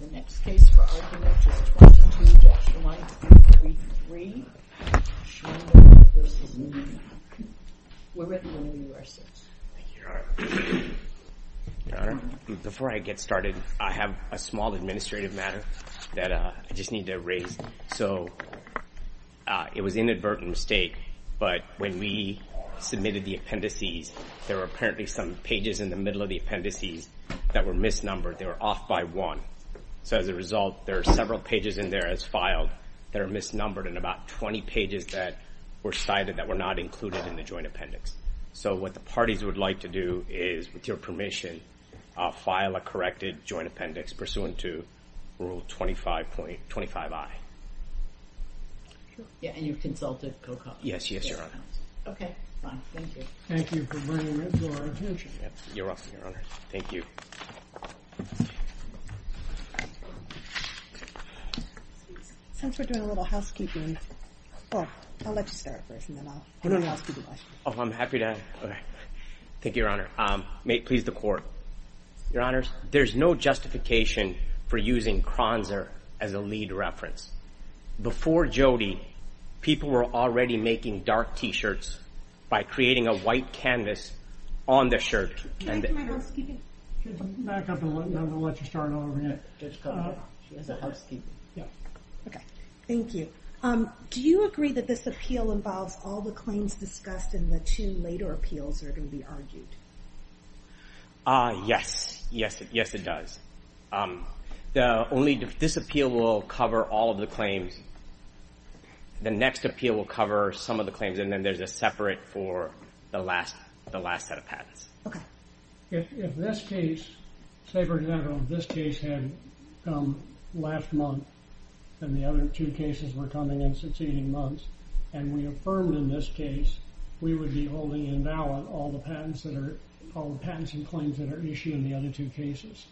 The next case for argument is 22-133, Schwendimann v. Neenah. We're ready when you are, sirs. Thank you, Your Honor. Before I get started, I have a small administrative matter that I just need to raise. So it was inadvertent mistake, but when we submitted the appendices, there were apparently some pages in the middle of the appendices that were misnumbered. They were off by one. So as a result, there are several pages in there as filed that are misnumbered, and about 20 pages that were cited that were not included in the joint appendix. So what the parties would like to do is, with your permission, file a corrected joint appendix pursuant to Rule 25i. Yeah, and you've consulted COCOA? Yes, yes, Your Honor. OK, fine, thank you. Thank you for bringing that to our attention. You're welcome, Your Honor. Thank you. Since we're doing a little housekeeping, well, I'll let you start first, and then I'll do the housekeeping. Oh, I'm happy to. Thank you, Your Honor. Please, the court. Your Honors, there's no justification for using Kronzer as a lead reference. Before Jody, people were already making dark t-shirts by creating a white canvas on the shirt. Can I do my housekeeping? Just back up a little, and I'm going to let you start all over again. Just cover it up. She has a housekeeping. Yeah. OK, thank you. Do you agree that this appeal involves all the claims discussed, and the two later appeals are going to be argued? Yes, yes, it does. This appeal will cover all of the claims. The next appeal will cover some of the claims, and then there's a separate for the last set of patents. If this case, say for example, this case had come last month, and the other two cases were coming in succeeding months, and we affirmed in this case, we would be holding invalid all the patents and claims that are issued in the other two cases.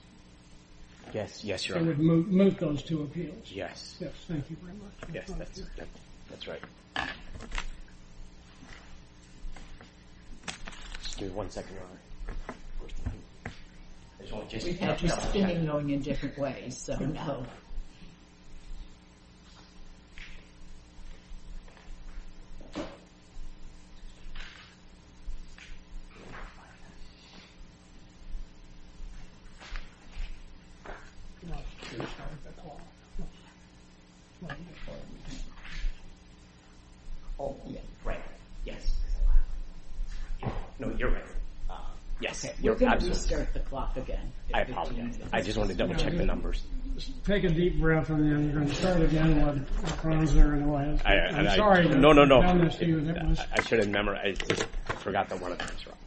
Yes, yes, Your Honor. It would moot those two appeals. Yes. Yes, thank you very much. Yes, that's right. Just give me one second, Your Honor. There's only two cases. We have two spinning going in different ways, so no. Oh, yeah, right. Yes. No, you're right. Yes, you're absolutely right. OK, we're going to restart the clock again. I apologize. I just want to double check the numbers. Take a deep breath, and then you're going to start again when it runs there in the last minute. I'm sorry. No, no, no. I'm going to see what it was. I should have memorized it. I forgot that one of them is wrong.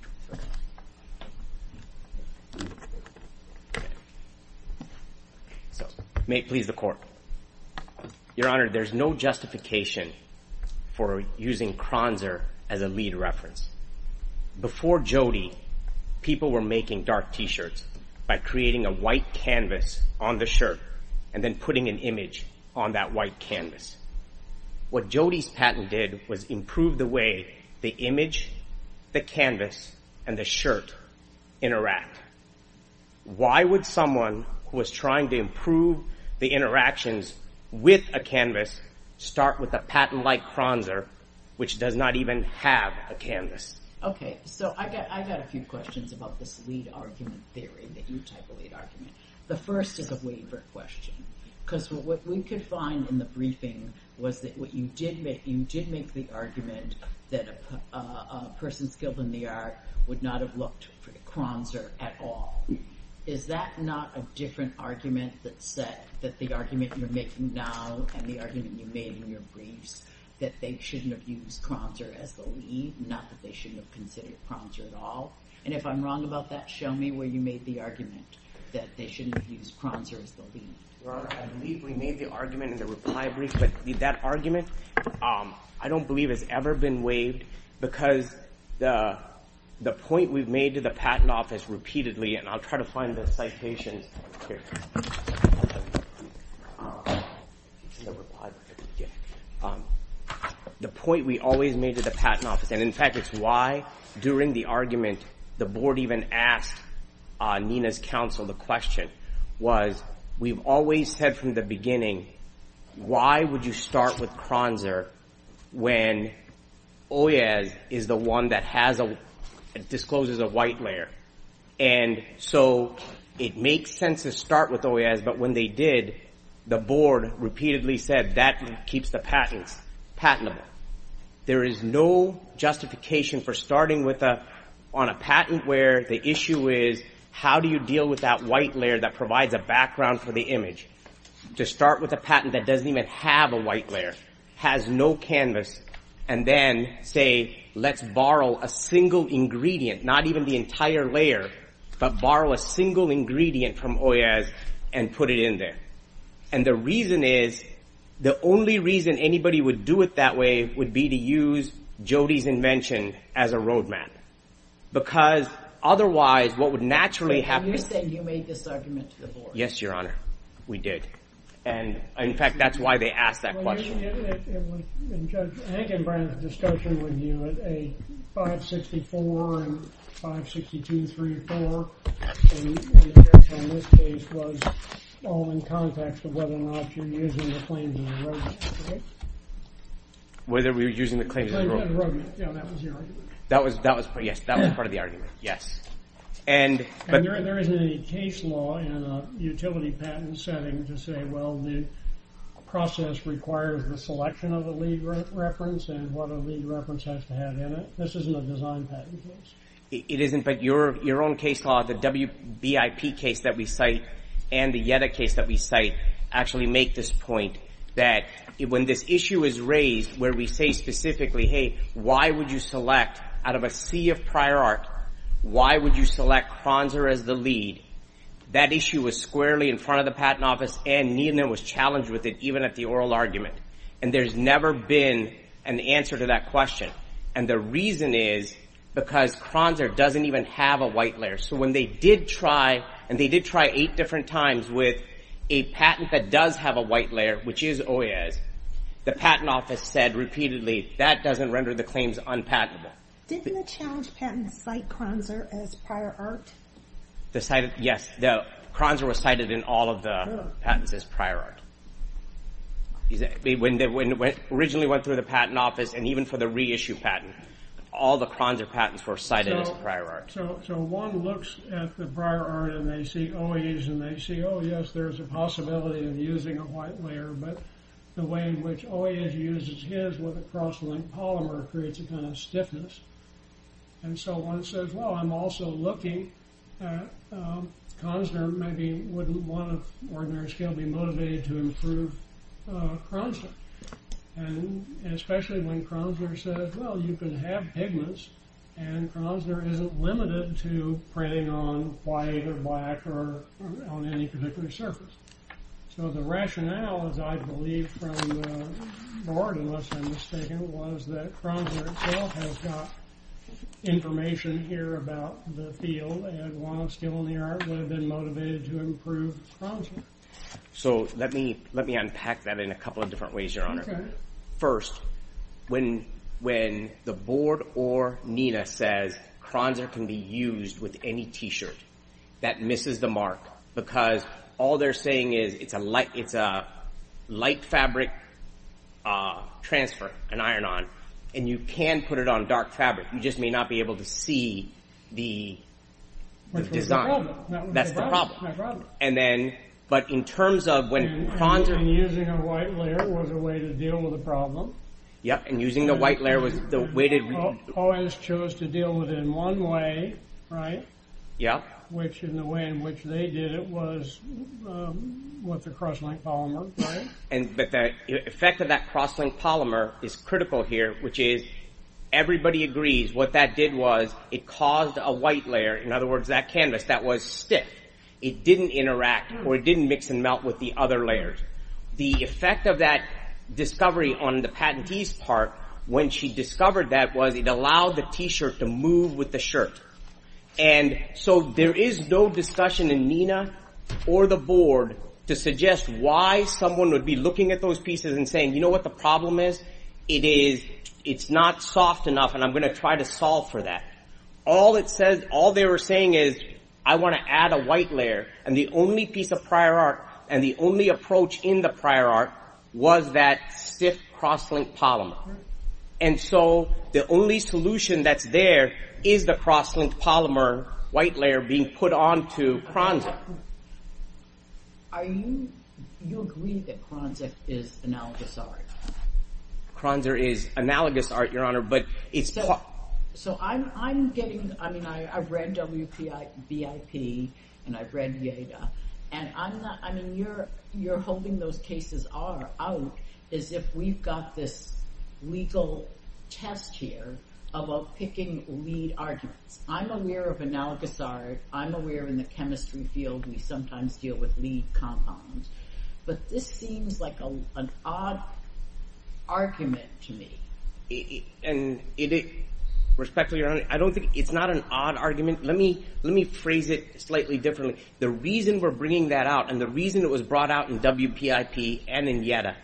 So may it please the Court. Your Honor, there's no justification for using Kronzer as a lead reference. Before Jodi, people were making dark t-shirts by creating a white canvas on the shirt and then putting an image on that white canvas. What Jodi's patent did was improve the way the image, the canvas, and the shirt interact. Why would someone who was trying to improve the interactions with a canvas start with a patent-like Kronzer, which does not even have a canvas? OK, so I've got a few questions about this lead argument theory that you type a lead argument. The first is a waiver question, because what we could find in the briefing was that you did make the argument that a person skilled in the art would not have looked for the Kronzer at all. Is that not a different argument that said that the argument you're making now and the argument you made in your briefs that they shouldn't have used Kronzer as the lead, not that they shouldn't have considered Kronzer at all? And if I'm wrong about that, show me where you made the argument that they shouldn't have used Kronzer as the lead. Your Honor, I believe we made the argument in the reply brief, but that argument I don't believe has ever been waived, because the point we've made to the Patent Office repeatedly, and I'll try to find the citations here, the point we always made to the Patent Office, and in fact, it's why during the argument the board even asked Nina's counsel the question, was we've always said from the beginning, why would you start with Kronzer when Oyez is the one that discloses a white layer? And so it makes sense to start with Oyez, but when they did, the board repeatedly said that keeps the patents patentable. There is no justification for starting on a patent where the issue is, how do you deal with that white layer that provides a background for the image? To start with a patent that doesn't even have a white layer, has no canvas, and then say, let's borrow a single ingredient, not even the entire layer, but borrow a single ingredient from Oyez and put it in there. And the reason is, the only reason anybody would do it that way would be to use Jody's invention as a roadmap, because otherwise, what would naturally happen is that you made this argument to the board. Yes, Your Honor. We did. And in fact, that's why they asked that question. Well, it was, in Judge Ankenbrand's discussion with you, a 564 and 562-34 in this case was all in context of whether or not you're using the claims as a roadmap, correct? Whether we were using the claims as a roadmap. Yeah, that was the argument. That was, yes, that was part of the argument, yes. And there isn't any case law in a utility patent setting to say, well, the process requires the selection of a lead reference and what a lead reference has to have in it. This isn't a design patent case. It isn't, but your own case law, the WBIP case that we cite and the Yetta case that we cite actually make this point that when this issue is raised where we say specifically, hey, why would you select, out of a sea of prior art, why would you select Kronzer as the lead? That issue was squarely in front of the Patent Office and Neenah was challenged with it, even at the oral argument. And there's never been an answer to that question. And the reason is because Kronzer doesn't even have a white layer. So when they did try, and they did try eight different times with a patent that does have a white layer, which is OAS, the Patent Office said repeatedly, that doesn't render the claims unpatentable. Didn't the challenge patent cite Kronzer as prior art? Yes, Kronzer was cited in all of the patents as prior art. When they originally went through the Patent Office and even for the reissue patent, all the Kronzer patents were cited as prior art. So one looks at the prior art and they see OAS and they see, oh, yes, there's a possibility of using a white layer. But the way in which OAS uses his with a cross-linked polymer creates a kind of stiffness. And so one says, well, I'm also looking at Kronzer maybe wouldn't want to, on an ordinary scale, be motivated to improve Kronzer. And especially when Kronzer says, well, you can have pigments and Kronzer isn't limited to printing on white or black or on any particular surface. So the rationale, as I believe from the board, unless I'm mistaken, was that Kronzer itself has got information here about the field and while it's still in the art, would have been motivated to improve Kronzer. So let me unpack that in a couple of different ways, Your Honor. First, when the board or Nina says Kronzer can be used with any t-shirt, that misses the mark because all they're saying is it's a light fabric transfer, an iron-on, and you can put it on dark fabric. You just may not be able to see the design. That's the problem. And then, but in terms of when Kronzer And using a white layer was a way to deal with the problem. Yep, and using the white layer was the way to do it. OAS chose to deal with it in one way, right? Yeah. Which in the way in which they did it was with the cross-linked polymer, right? But the effect of that cross-linked polymer is critical here, which is everybody agrees what that did was it caused a white layer, in other words, that canvas that was stiff. It didn't interact, or it didn't mix and melt with the other layers. The effect of that discovery on the patentee's part when she discovered that was it allowed the t-shirt to move with the shirt. And so there is no discussion in NINA or the board to suggest why someone would be looking at those pieces and saying, you know what the problem is? It is, it's not soft enough, and I'm gonna try to solve for that. All it says, all they were saying is, I wanna add a white layer, and the only piece of prior art, and the only approach in the prior art was that stiff cross-linked polymer. And so the only solution that's there is the cross-linked polymer white layer being put on to Kronzer. Are you, you agree that Kronzer is analogous art? Kronzer is analogous art, your honor, but it's. So I'm getting, I mean, I read WPI, VIP, and I've read Yeda, and I'm not, I mean, you're holding those cases are out as if we've got this legal test here about picking lead arguments. I'm aware of analogous art, I'm aware in the chemistry field, we sometimes deal with lead compounds, but this seems like an odd argument to me. And it, respectfully, your honor, I don't think, it's not an odd argument. Let me phrase it slightly differently. The reason we're bringing that out, and the reason it was brought out in WPIP and in Yeda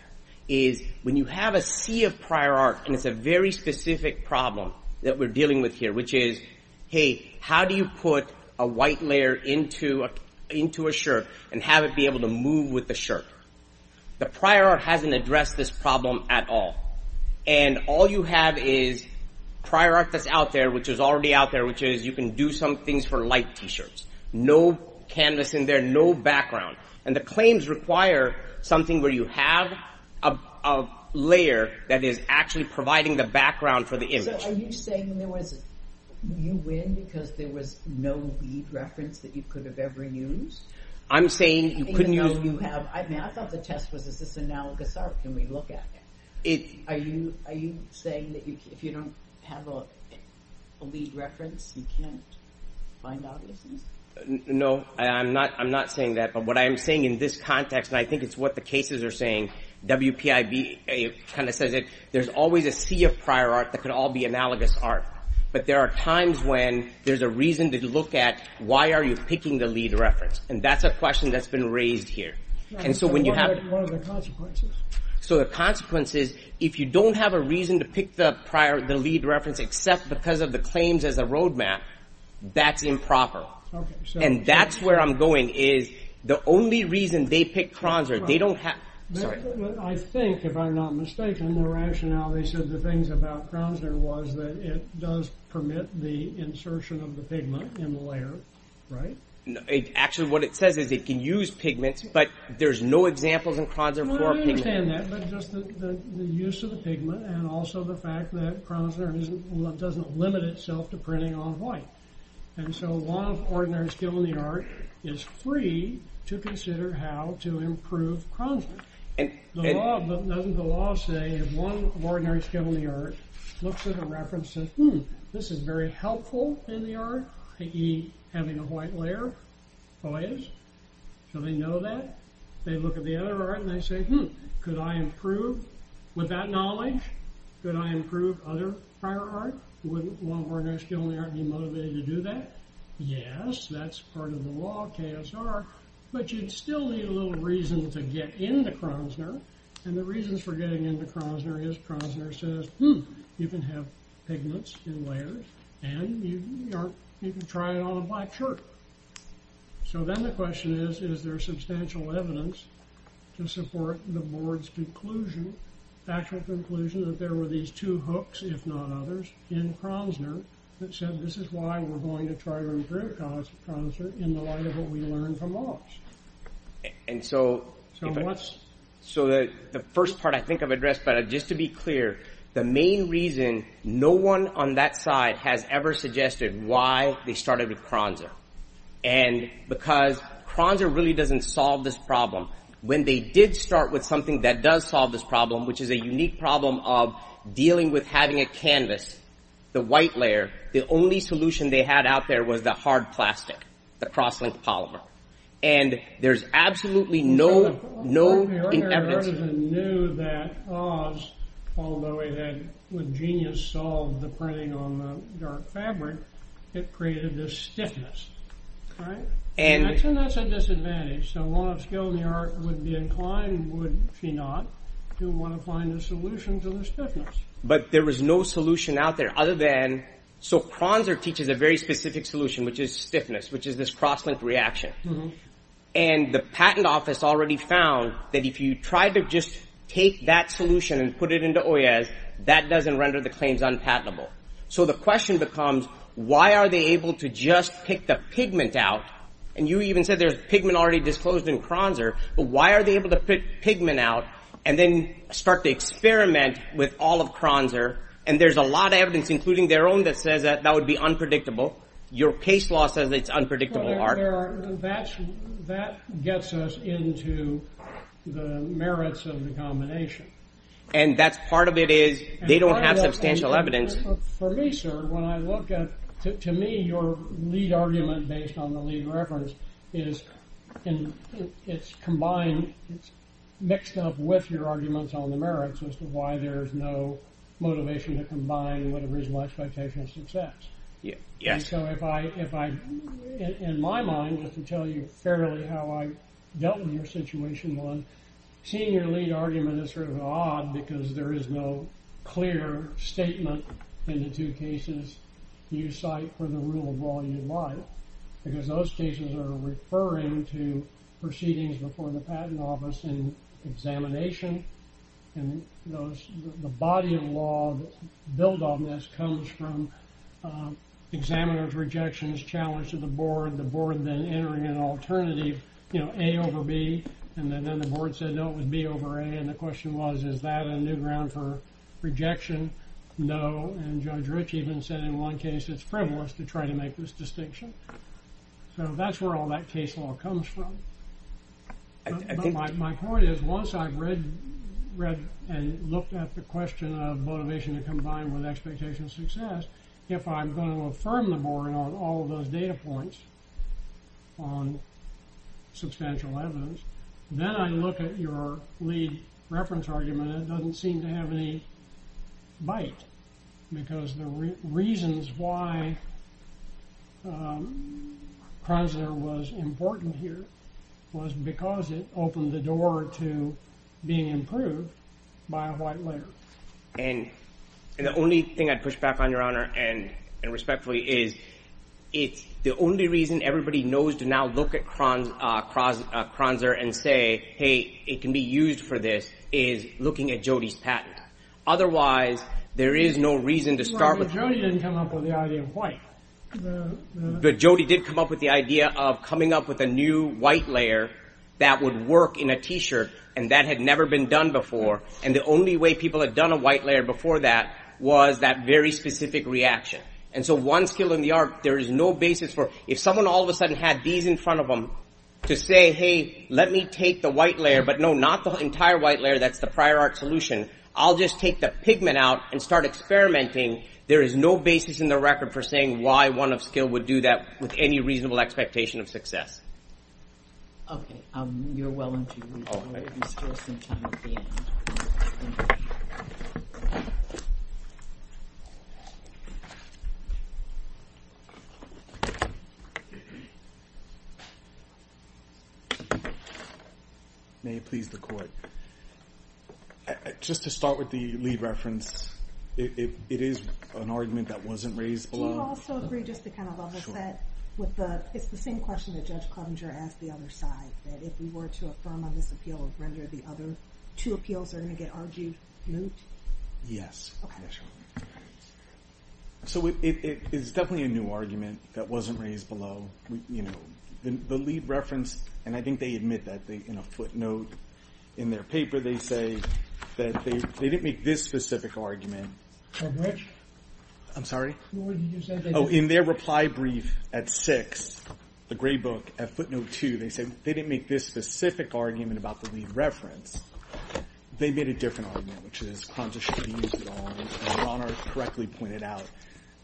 is when you have a sea of prior art, and it's a very specific problem that we're dealing with here, which is, hey, how do you put a white layer into a shirt and have it be able to move with the shirt? The prior art hasn't addressed this problem at all. And all you have is prior art that's out there, which is already out there, which is you can do some things for light T-shirts. No canvas in there, no background. And the claims require something where you have a layer that is actually providing the background for the image. So are you saying there was, you win because there was no lead reference that you could have ever used? I'm saying you couldn't use- Even though you have, I mean, I thought the test was, is this analogous art? Can we look at it? Are you saying that if you don't have a lead reference, you can't find obviousness? No, I'm not saying that, but what I am saying in this context, and I think it's what the cases are saying, WPIB kind of says it, there's always a sea of prior art that could all be analogous art. But there are times when there's a reason to look at why are you picking the lead reference? And that's a question that's been raised here. And so when you have- What are the consequences? So the consequences, if you don't have a reason to pick the lead reference, except because of the claims as a roadmap, that's improper. And that's where I'm going, is the only reason they picked Kronzer, they don't have- Sorry. I think, if I'm not mistaken, the rationale they said the things about Kronzer was that it does permit the insertion of the pigment in the layer, right? Actually, what it says is it can use pigments, but there's no examples in Kronzer for pigment. No, I understand that, but just the use of the pigment and also the fact that Kronzer doesn't limit itself to printing on white. And so a lot of ordinary skill in the art is free to consider how to improve Kronzer. The law, doesn't the law say if one ordinary skill in the art looks at a reference and says, hmm, this is very helpful in the art, i.e. having a white layer, always, so they know that. They look at the other art and they say, hmm, could I improve with that knowledge? Could I improve other prior art? Wouldn't one ordinary skill in the art be motivated to do that? Yes, that's part of the law, KSR, but you'd still need a little reason to get into Kronzer. And the reasons for getting into Kronzer is Kronzer says, hmm, you can have pigments in layers and you can try it on a black shirt. So then the question is, is there substantial evidence to support the board's conclusion, actual conclusion that there were these two hooks, if not others, in Kronzer that said, this is why we're going to try to improve Kronzer in the light of what we learned from Walsh? And so. So what? So the first part I think I've addressed, but just to be clear, the main reason no one on that side has ever suggested why they started with Kronzer and because Kronzer really doesn't solve this problem. When they did start with something that does solve this problem, which is a unique problem of dealing with having a canvas, the white layer, the only solution they had out there was the hard plastic, the cross-linked polymer. And there's absolutely no, no evidence. Artisan knew that Oz, although he had genius solved the printing on the dark fabric, it created this stiffness, right? And that's a disadvantage. So a lot of skill in the art would be inclined, would she not, to want to find a solution to the stiffness. But there was no solution out there other than, so Kronzer teaches a very specific solution, which is stiffness, which is this cross-linked reaction. And the patent office already found that if you tried to just take that solution and put it into Oyez, that doesn't render the claims unpatentable. So the question becomes, why are they able to just pick the pigment out? And you even said there's pigment already disclosed in Kronzer, but why are they able to pick pigment out and then start to experiment with all of Kronzer? And there's a lot of evidence, including their own, that says that that would be unpredictable. Your case law says it's unpredictable, Art. That gets us into the merits of the combination. And that's part of it is, they don't have substantial evidence. For me, sir, when I look at, to me, your lead argument based on the lead reference is, it's combined, it's mixed up with your arguments on the merits as to why there's no motivation to combine what original expectation of success. Yeah, yes. So if I, in my mind, just to tell you fairly how I dealt with your situation one, seeing your lead argument is sort of odd because there is no clear statement in the two cases you cite for the rule of law you'd like, because those cases are referring to proceedings before the patent office and examination. And the body of law that's built on this comes from examiner's rejections, challenge to the board, the board then entering an alternative, you know, A over B. And then the board said, no, it would be over A. And the question was, is that a new ground for rejection? No. And Judge Rich even said in one case, it's frivolous to try to make this distinction. So that's where all that case law comes from. My point is, once I've read and looked at the question of motivation to combine with expectation of success, if I'm going to affirm the board on all of those data points on substantial evidence, then I look at your lead reference argument and it doesn't seem to have any bite because the reasons why Kronzer was important here was because it opened the door to being improved by a white layer. And the only thing I'd push back on, Your Honor, and respectfully is, it's the only reason everybody knows to now look at Kronzer and say, hey, it can be used for this, is looking at Jody's patent. Otherwise, there is no reason to start with- But Jody didn't come up with the idea of white. But Jody did come up with the idea of coming up with a new white layer that would work in a t-shirt and that had never been done before. And the only way people had done a white layer before that was that very specific reaction. And so one skill in the art, there is no basis for, if someone all of a sudden had these in front of them to say, hey, let me take the white layer, but no, not the entire white layer, that's the prior art solution. I'll just take the pigment out and start experimenting. There is no basis in the record for saying why one of skill would do that with any reasonable expectation of success. Okay. You're well into your week. Okay. You still have some time at the end. Thank you. May it please the court. Just to start with the lead reference, it is an argument that wasn't raised below. Do you also agree just to kind of level set with the, it's the same question that Judge Covinger asked the other side, that if we were to affirm on this appeal and render the other two appeals, they're gonna get argued moot? Yes. So it is definitely a new argument that wasn't raised below. You know, the lead reference, and I think they admit that in a footnote in their paper they say that they didn't make this specific argument. On which? I'm sorry? What did you say? Oh, in their reply brief at six, the gray book at footnote two, they said they didn't make this specific argument about the lead reference. They made a different argument, which is Kronza should be used at all. And Rana correctly pointed out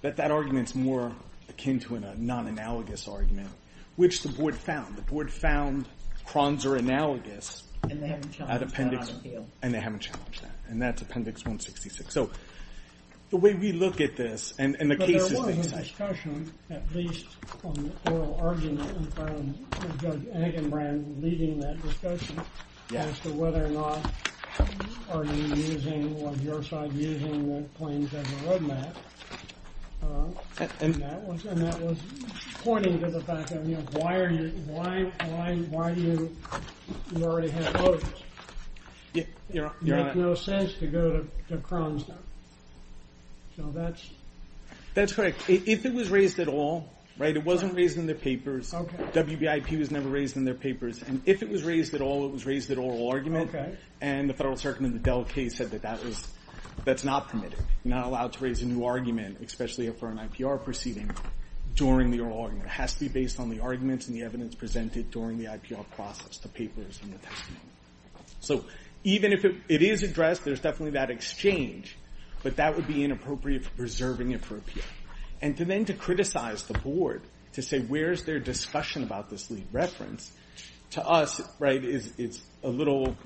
that that argument's more akin to a non-analogous argument, which the board found. The board found Kronza analogous. And they haven't challenged that appeal. And they haven't challenged that. And that's appendix 166. So the way we look at this, and the cases they cite. But there was a discussion, at least on the oral argument, in front of Judge Angenbrand, leading that discussion, as to whether or not are you using, was your side using the claims as a roadmap. And that was pointing to the fact of, why are you, why are you, why are you, you already have motives. It makes no sense to go to Kronza. So that's. That's correct. If it was raised at all, right, it wasn't raised in their papers. WBIP was never raised in their papers. And if it was raised at all, it was raised at oral argument. And the federal circuit in the Dell case said that that was, that's not permitted. Not allowed to raise a new argument, especially for an IPR proceeding, during the oral argument. It has to be based on the arguments and the evidence presented during the IPR process, the papers and the testimony. So even if it is addressed, there's definitely that exchange. But that would be inappropriate for preserving it for appeal. And then to criticize the board, to say where's their discussion about this lead reference, to us, right, it's a little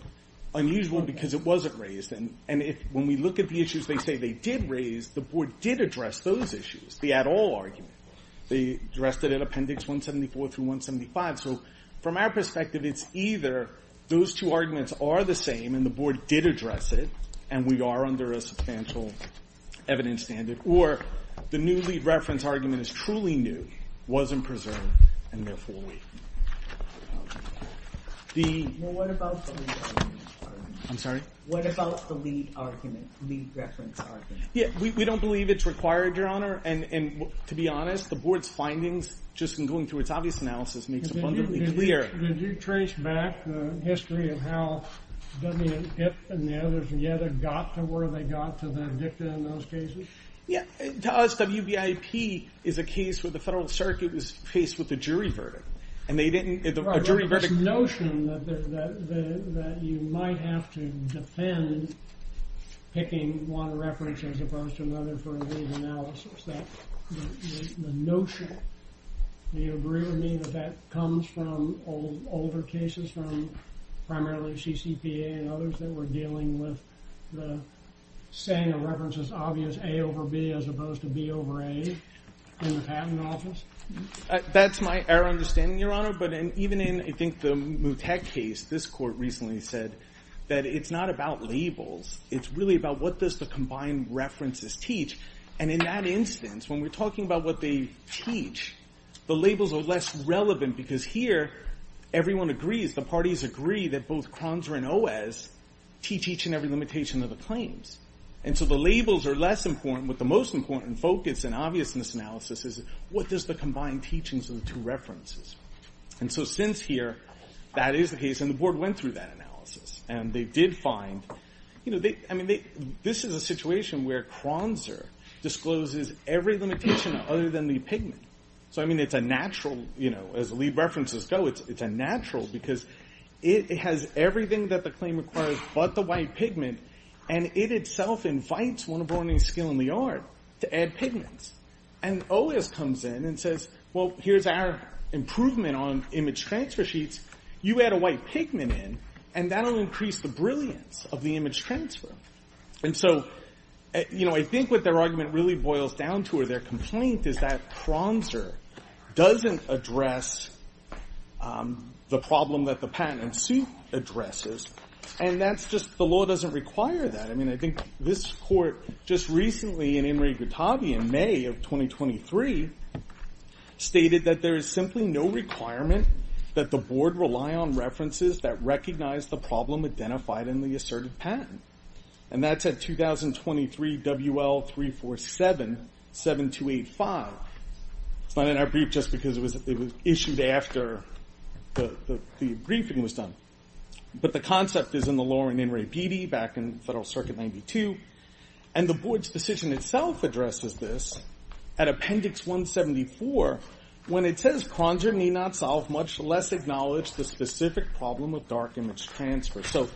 unusual because it wasn't raised. And if, when we look at the issues they say they did raise, the board did address those issues. The at all argument. They addressed it at appendix 174 through 175. So from our perspective, it's either those two arguments are the same and the board did address it and we are under a substantial evidence standard. Or the new lead reference argument is truly new, wasn't preserved, and therefore weakened. The- Well what about the lead argument? I'm sorry? What about the lead argument, lead reference argument? Yeah, we don't believe it's required, Your Honor. And to be honest, the board's findings, just in going through its obvious analysis, makes it abundantly clear. Did you trace back the history of how WBIP and the others together got to where they got to the dicta in those cases? Yeah, the WBIP is a case where the federal circuit was faced with a jury verdict. And they didn't, a jury verdict- This notion that you might have to defend picking one reference as opposed to another for a lead analysis, that the notion, do you agree with me that that comes from older cases from primarily CCPA and others that were dealing with the saying of references obvious A over B as opposed to B over A in the patent office? That's my error of understanding, Your Honor. But even in, I think, the Mutek case, this court recently said that it's not about labels. It's really about what does the combined references teach? And in that instance, when we're talking about what they teach, the labels are less relevant because here, everyone agrees, the parties agree that both Kronzer and Oez teach each and every limitation of the claims. And so the labels are less important, but the most important focus and obviousness analysis is what does the combined teachings of the two references? And so since here, that is the case, and the board went through that analysis. And they did find, I mean, this is a situation where Kronzer discloses every limitation other than the pigment. So, I mean, it's a natural, as the lead references go, it's a natural because it has everything that the claim requires but the white pigment, and it itself invites one of Browning's skill in the art to add pigments. And Oez comes in and says, well, here's our improvement on image transfer sheets. You add a white pigment in, and that'll increase the brilliance of the image transfer. And so, you know, I think what their argument really boils down to, or their complaint is that Kronzer doesn't address the problem that the patent suit addresses. And that's just, the law doesn't require that. I mean, I think this court just recently in Inri Guttavi in May of 2023, stated that there is simply no requirement that the board rely on references that recognize the problem identified in the asserted patent. And that's at 2023 WL347, 7285. It's not in our brief just because it was issued after the briefing was done. But the concept is in the law in Inri Pitti back in Federal Circuit 92. And the board's decision itself addresses this at appendix 174, when it says Kronzer may not solve much less acknowledge the specific problem of dark image transfer. So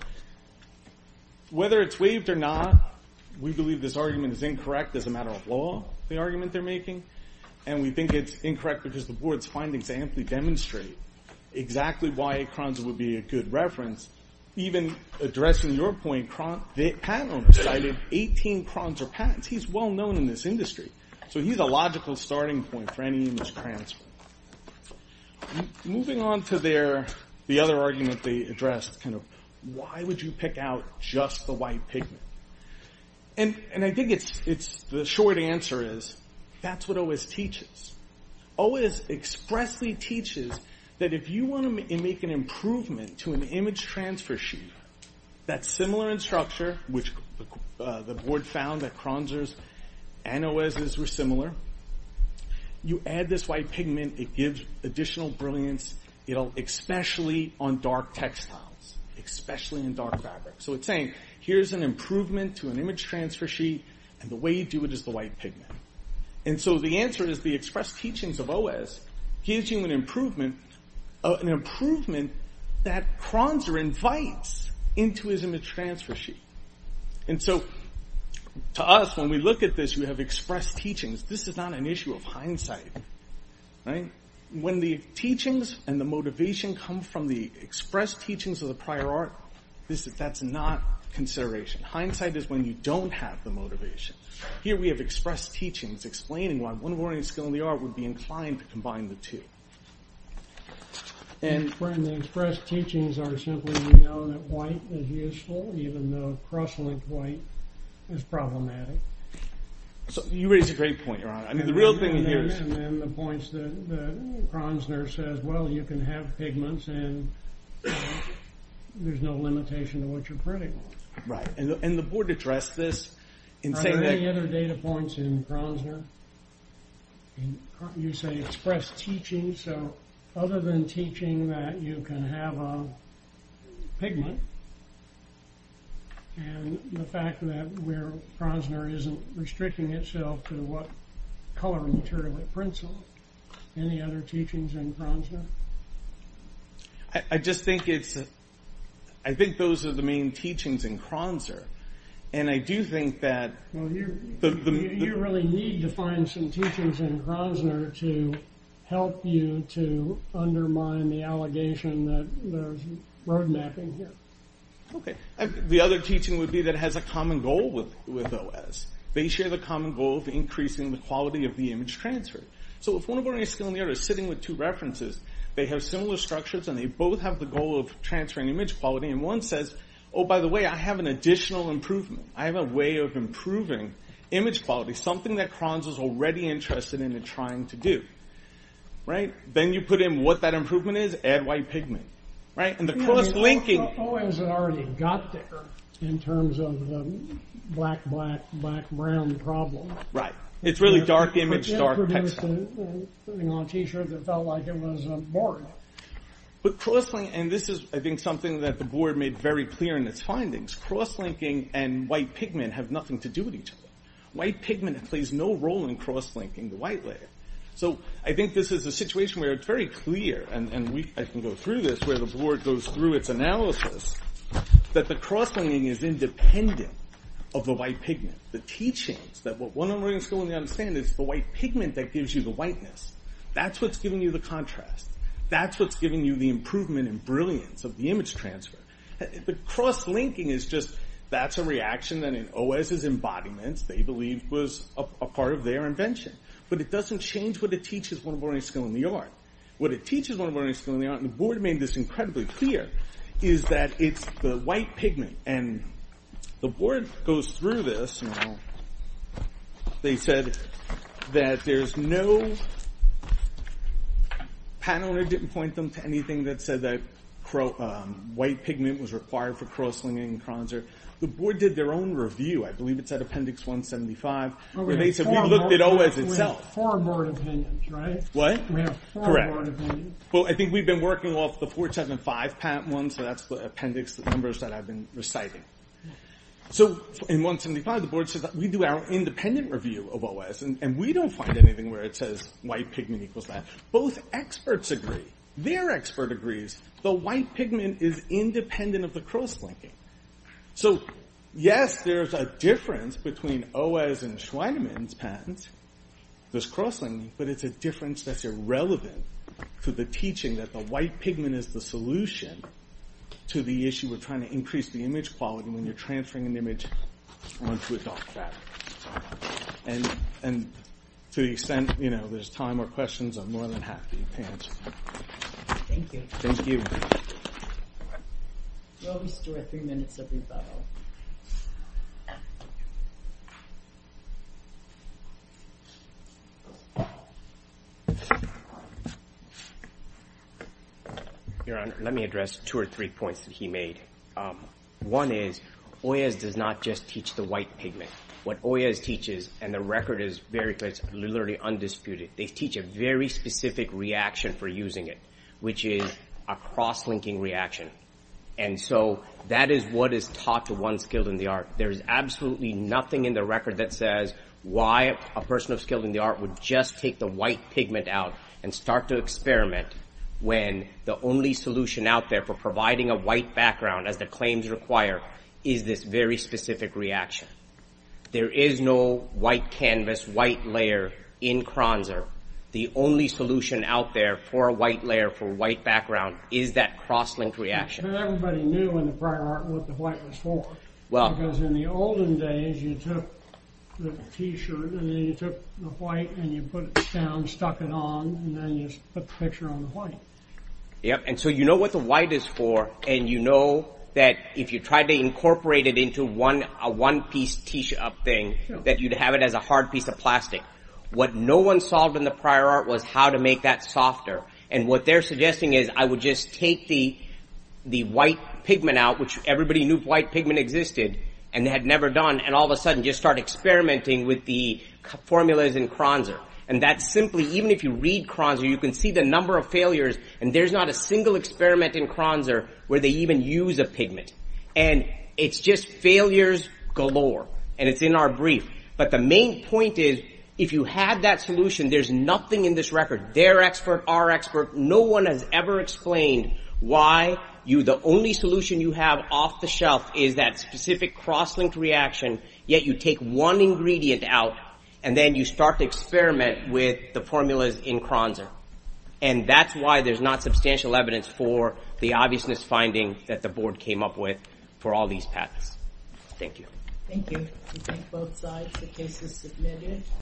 whether it's waived or not, we believe this argument is incorrect as a matter of law, the argument they're making. And we think it's incorrect because the board's findings amply demonstrate exactly why Kronzer would be a good reference. Even addressing your point, the patent owner cited 18 Kronzer patents. He's well known in this industry. So he's a logical starting point for any image transfer. Moving on to their, the other argument they addressed, why would you pick out just the white pigment? And I think the short answer is, that's what O.S. teaches. O.S. expressly teaches that if you wanna make an improvement to an image transfer sheet that's similar in structure, which the board found that Kronzer's and O.S.'s were similar, you add this white pigment, it gives additional brilliance, especially on dark textiles, especially in dark fabric. So it's saying, here's an improvement to an image transfer sheet and the way you do it is the white pigment. And so the answer is the express teachings of O.S. gives you an improvement, an improvement that Kronzer invites into his image transfer sheet. And so to us, when we look at this, we have expressed teachings. This is not an issue of hindsight. When the teachings and the motivation come from the expressed teachings of the prior art, that's not consideration. Hindsight is when you don't have the motivation. Here we have expressed teachings explaining why one warning skill in the art would be inclined to combine the two. And when the expressed teachings are simply we know that white is useful, So you raise a great point, Your Honor. I mean, the real thing here is. And then the points that Kronzner says, well, you can have pigments and there's no limitation to what you're printing on. Right, and the board addressed this in saying that. Are there any other data points in Kronzner? You say expressed teachings. So other than teaching that you can have a pigment and the fact that where Kronzner isn't restricting itself to what color material it prints on. Any other teachings in Kronzner? I just think it's, I think those are the main teachings in Kronzner. And I do think that. Well, you really need to find some teachings in Kronzner to help you to undermine the allegation that there's road mapping here. Okay, the other teaching would be that has a common goal with OS. They share the common goal of increasing the quality of the image transfer. So if one of our new skill in the area is sitting with two references, they have similar structures and they both have the goal of transferring image quality. And one says, oh, by the way, I have an additional improvement. I have a way of improving image quality. Something that Kronzner is already interested in trying to do, right? Then you put in what that improvement is, add white pigment, right? And the cross-linking. OS already got thicker in terms of the black, black, black, brown problem. Right, it's really dark image, dark pixel. Putting on a t-shirt that felt like it was boring. But cross-linking, and this is, I think, something that the board made very clear in its findings. Cross-linking and white pigment have nothing to do with each other. White pigment plays no role in cross-linking the white layer. So I think this is a situation where it's very clear and I can go through this, where the board goes through its analysis, that the cross-linking is independent of the white pigment. The teachings, that what one learning skill in the art is saying is the white pigment that gives you the whiteness. That's what's giving you the contrast. That's what's giving you the improvement and brilliance of the image transfer. The cross-linking is just, that's a reaction that in OS's embodiments, they believe was a part of their invention. But it doesn't change what it teaches one learning skill in the art. What it teaches one learning skill in the art, and the board made this incredibly clear, is that it's the white pigment. And the board goes through this. They said that there's no, Pat Oner didn't point them to anything that said that white pigment was required for cross-linking in Kronzer. The board did their own review, I believe it's at appendix 175, where they said we looked at OS itself. We have four board opinions, right? What? We have four board opinions. Well, I think we've been working off the 475 one, so that's the appendix, the numbers that I've been reciting. So, in 175, the board says that we do our independent review of OS, and we don't find anything where it says white pigment equals that. Both experts agree. Their expert agrees. The white pigment is independent of the cross-linking. So, yes, there's a difference between OS and Schweinemann's patents. There's cross-linking, but it's a difference that's irrelevant to the teaching that the white pigment is the solution to the issue of trying to increase the image quality when you're transferring an image onto a dark fabric. And to the extent there's time or questions, I'm more than happy to answer them. Thank you. Thank you. We'll restore three minutes of rebuttal. Your Honor, let me address two or three points that he made. One is, OS does not just teach the white pigment. What OS teaches, and the record is very clear, it's literally undisputed, they teach a very specific reaction for using it, which is a cross-linking reaction. And so, that is what is taught to one skilled in the art. There is absolutely nothing in the record that says why a person of skill in the art would just take the white pigment out of a white fabric and start to experiment when the only solution out there for providing a white background, as the claims require, is this very specific reaction. There is no white canvas, white layer in Kronzer. The only solution out there for a white layer, for a white background, is that cross-linked reaction. And everybody knew in the prior art what the white was for. Well. Because in the olden days, you took the T-shirt and then you took the white and you put it down, you stuck it on, and then you put the picture on the white. Yep, and so you know what the white is for, and you know that if you tried to incorporate it into a one-piece T-shirt thing, that you'd have it as a hard piece of plastic. What no one solved in the prior art was how to make that softer. And what they're suggesting is, I would just take the white pigment out, which everybody knew white pigment existed, and had never done, and all of a sudden just start experimenting with the formulas in Kronzer. And that simply, even if you read Kronzer, you can see the number of failures, and there's not a single experiment in Kronzer where they even use a pigment. And it's just failures galore. And it's in our brief. But the main point is, if you had that solution, there's nothing in this record. Their expert, our expert, no one has ever explained why the only solution you have off the shelf is that specific cross-linked reaction, yet you take one ingredient out and then you start to experiment with the formulas in Kronzer. And that's why there's not substantial evidence for the obviousness finding that the board came up with for all these patents. Thank you. Thank you. We thank both sides. The case is submitted.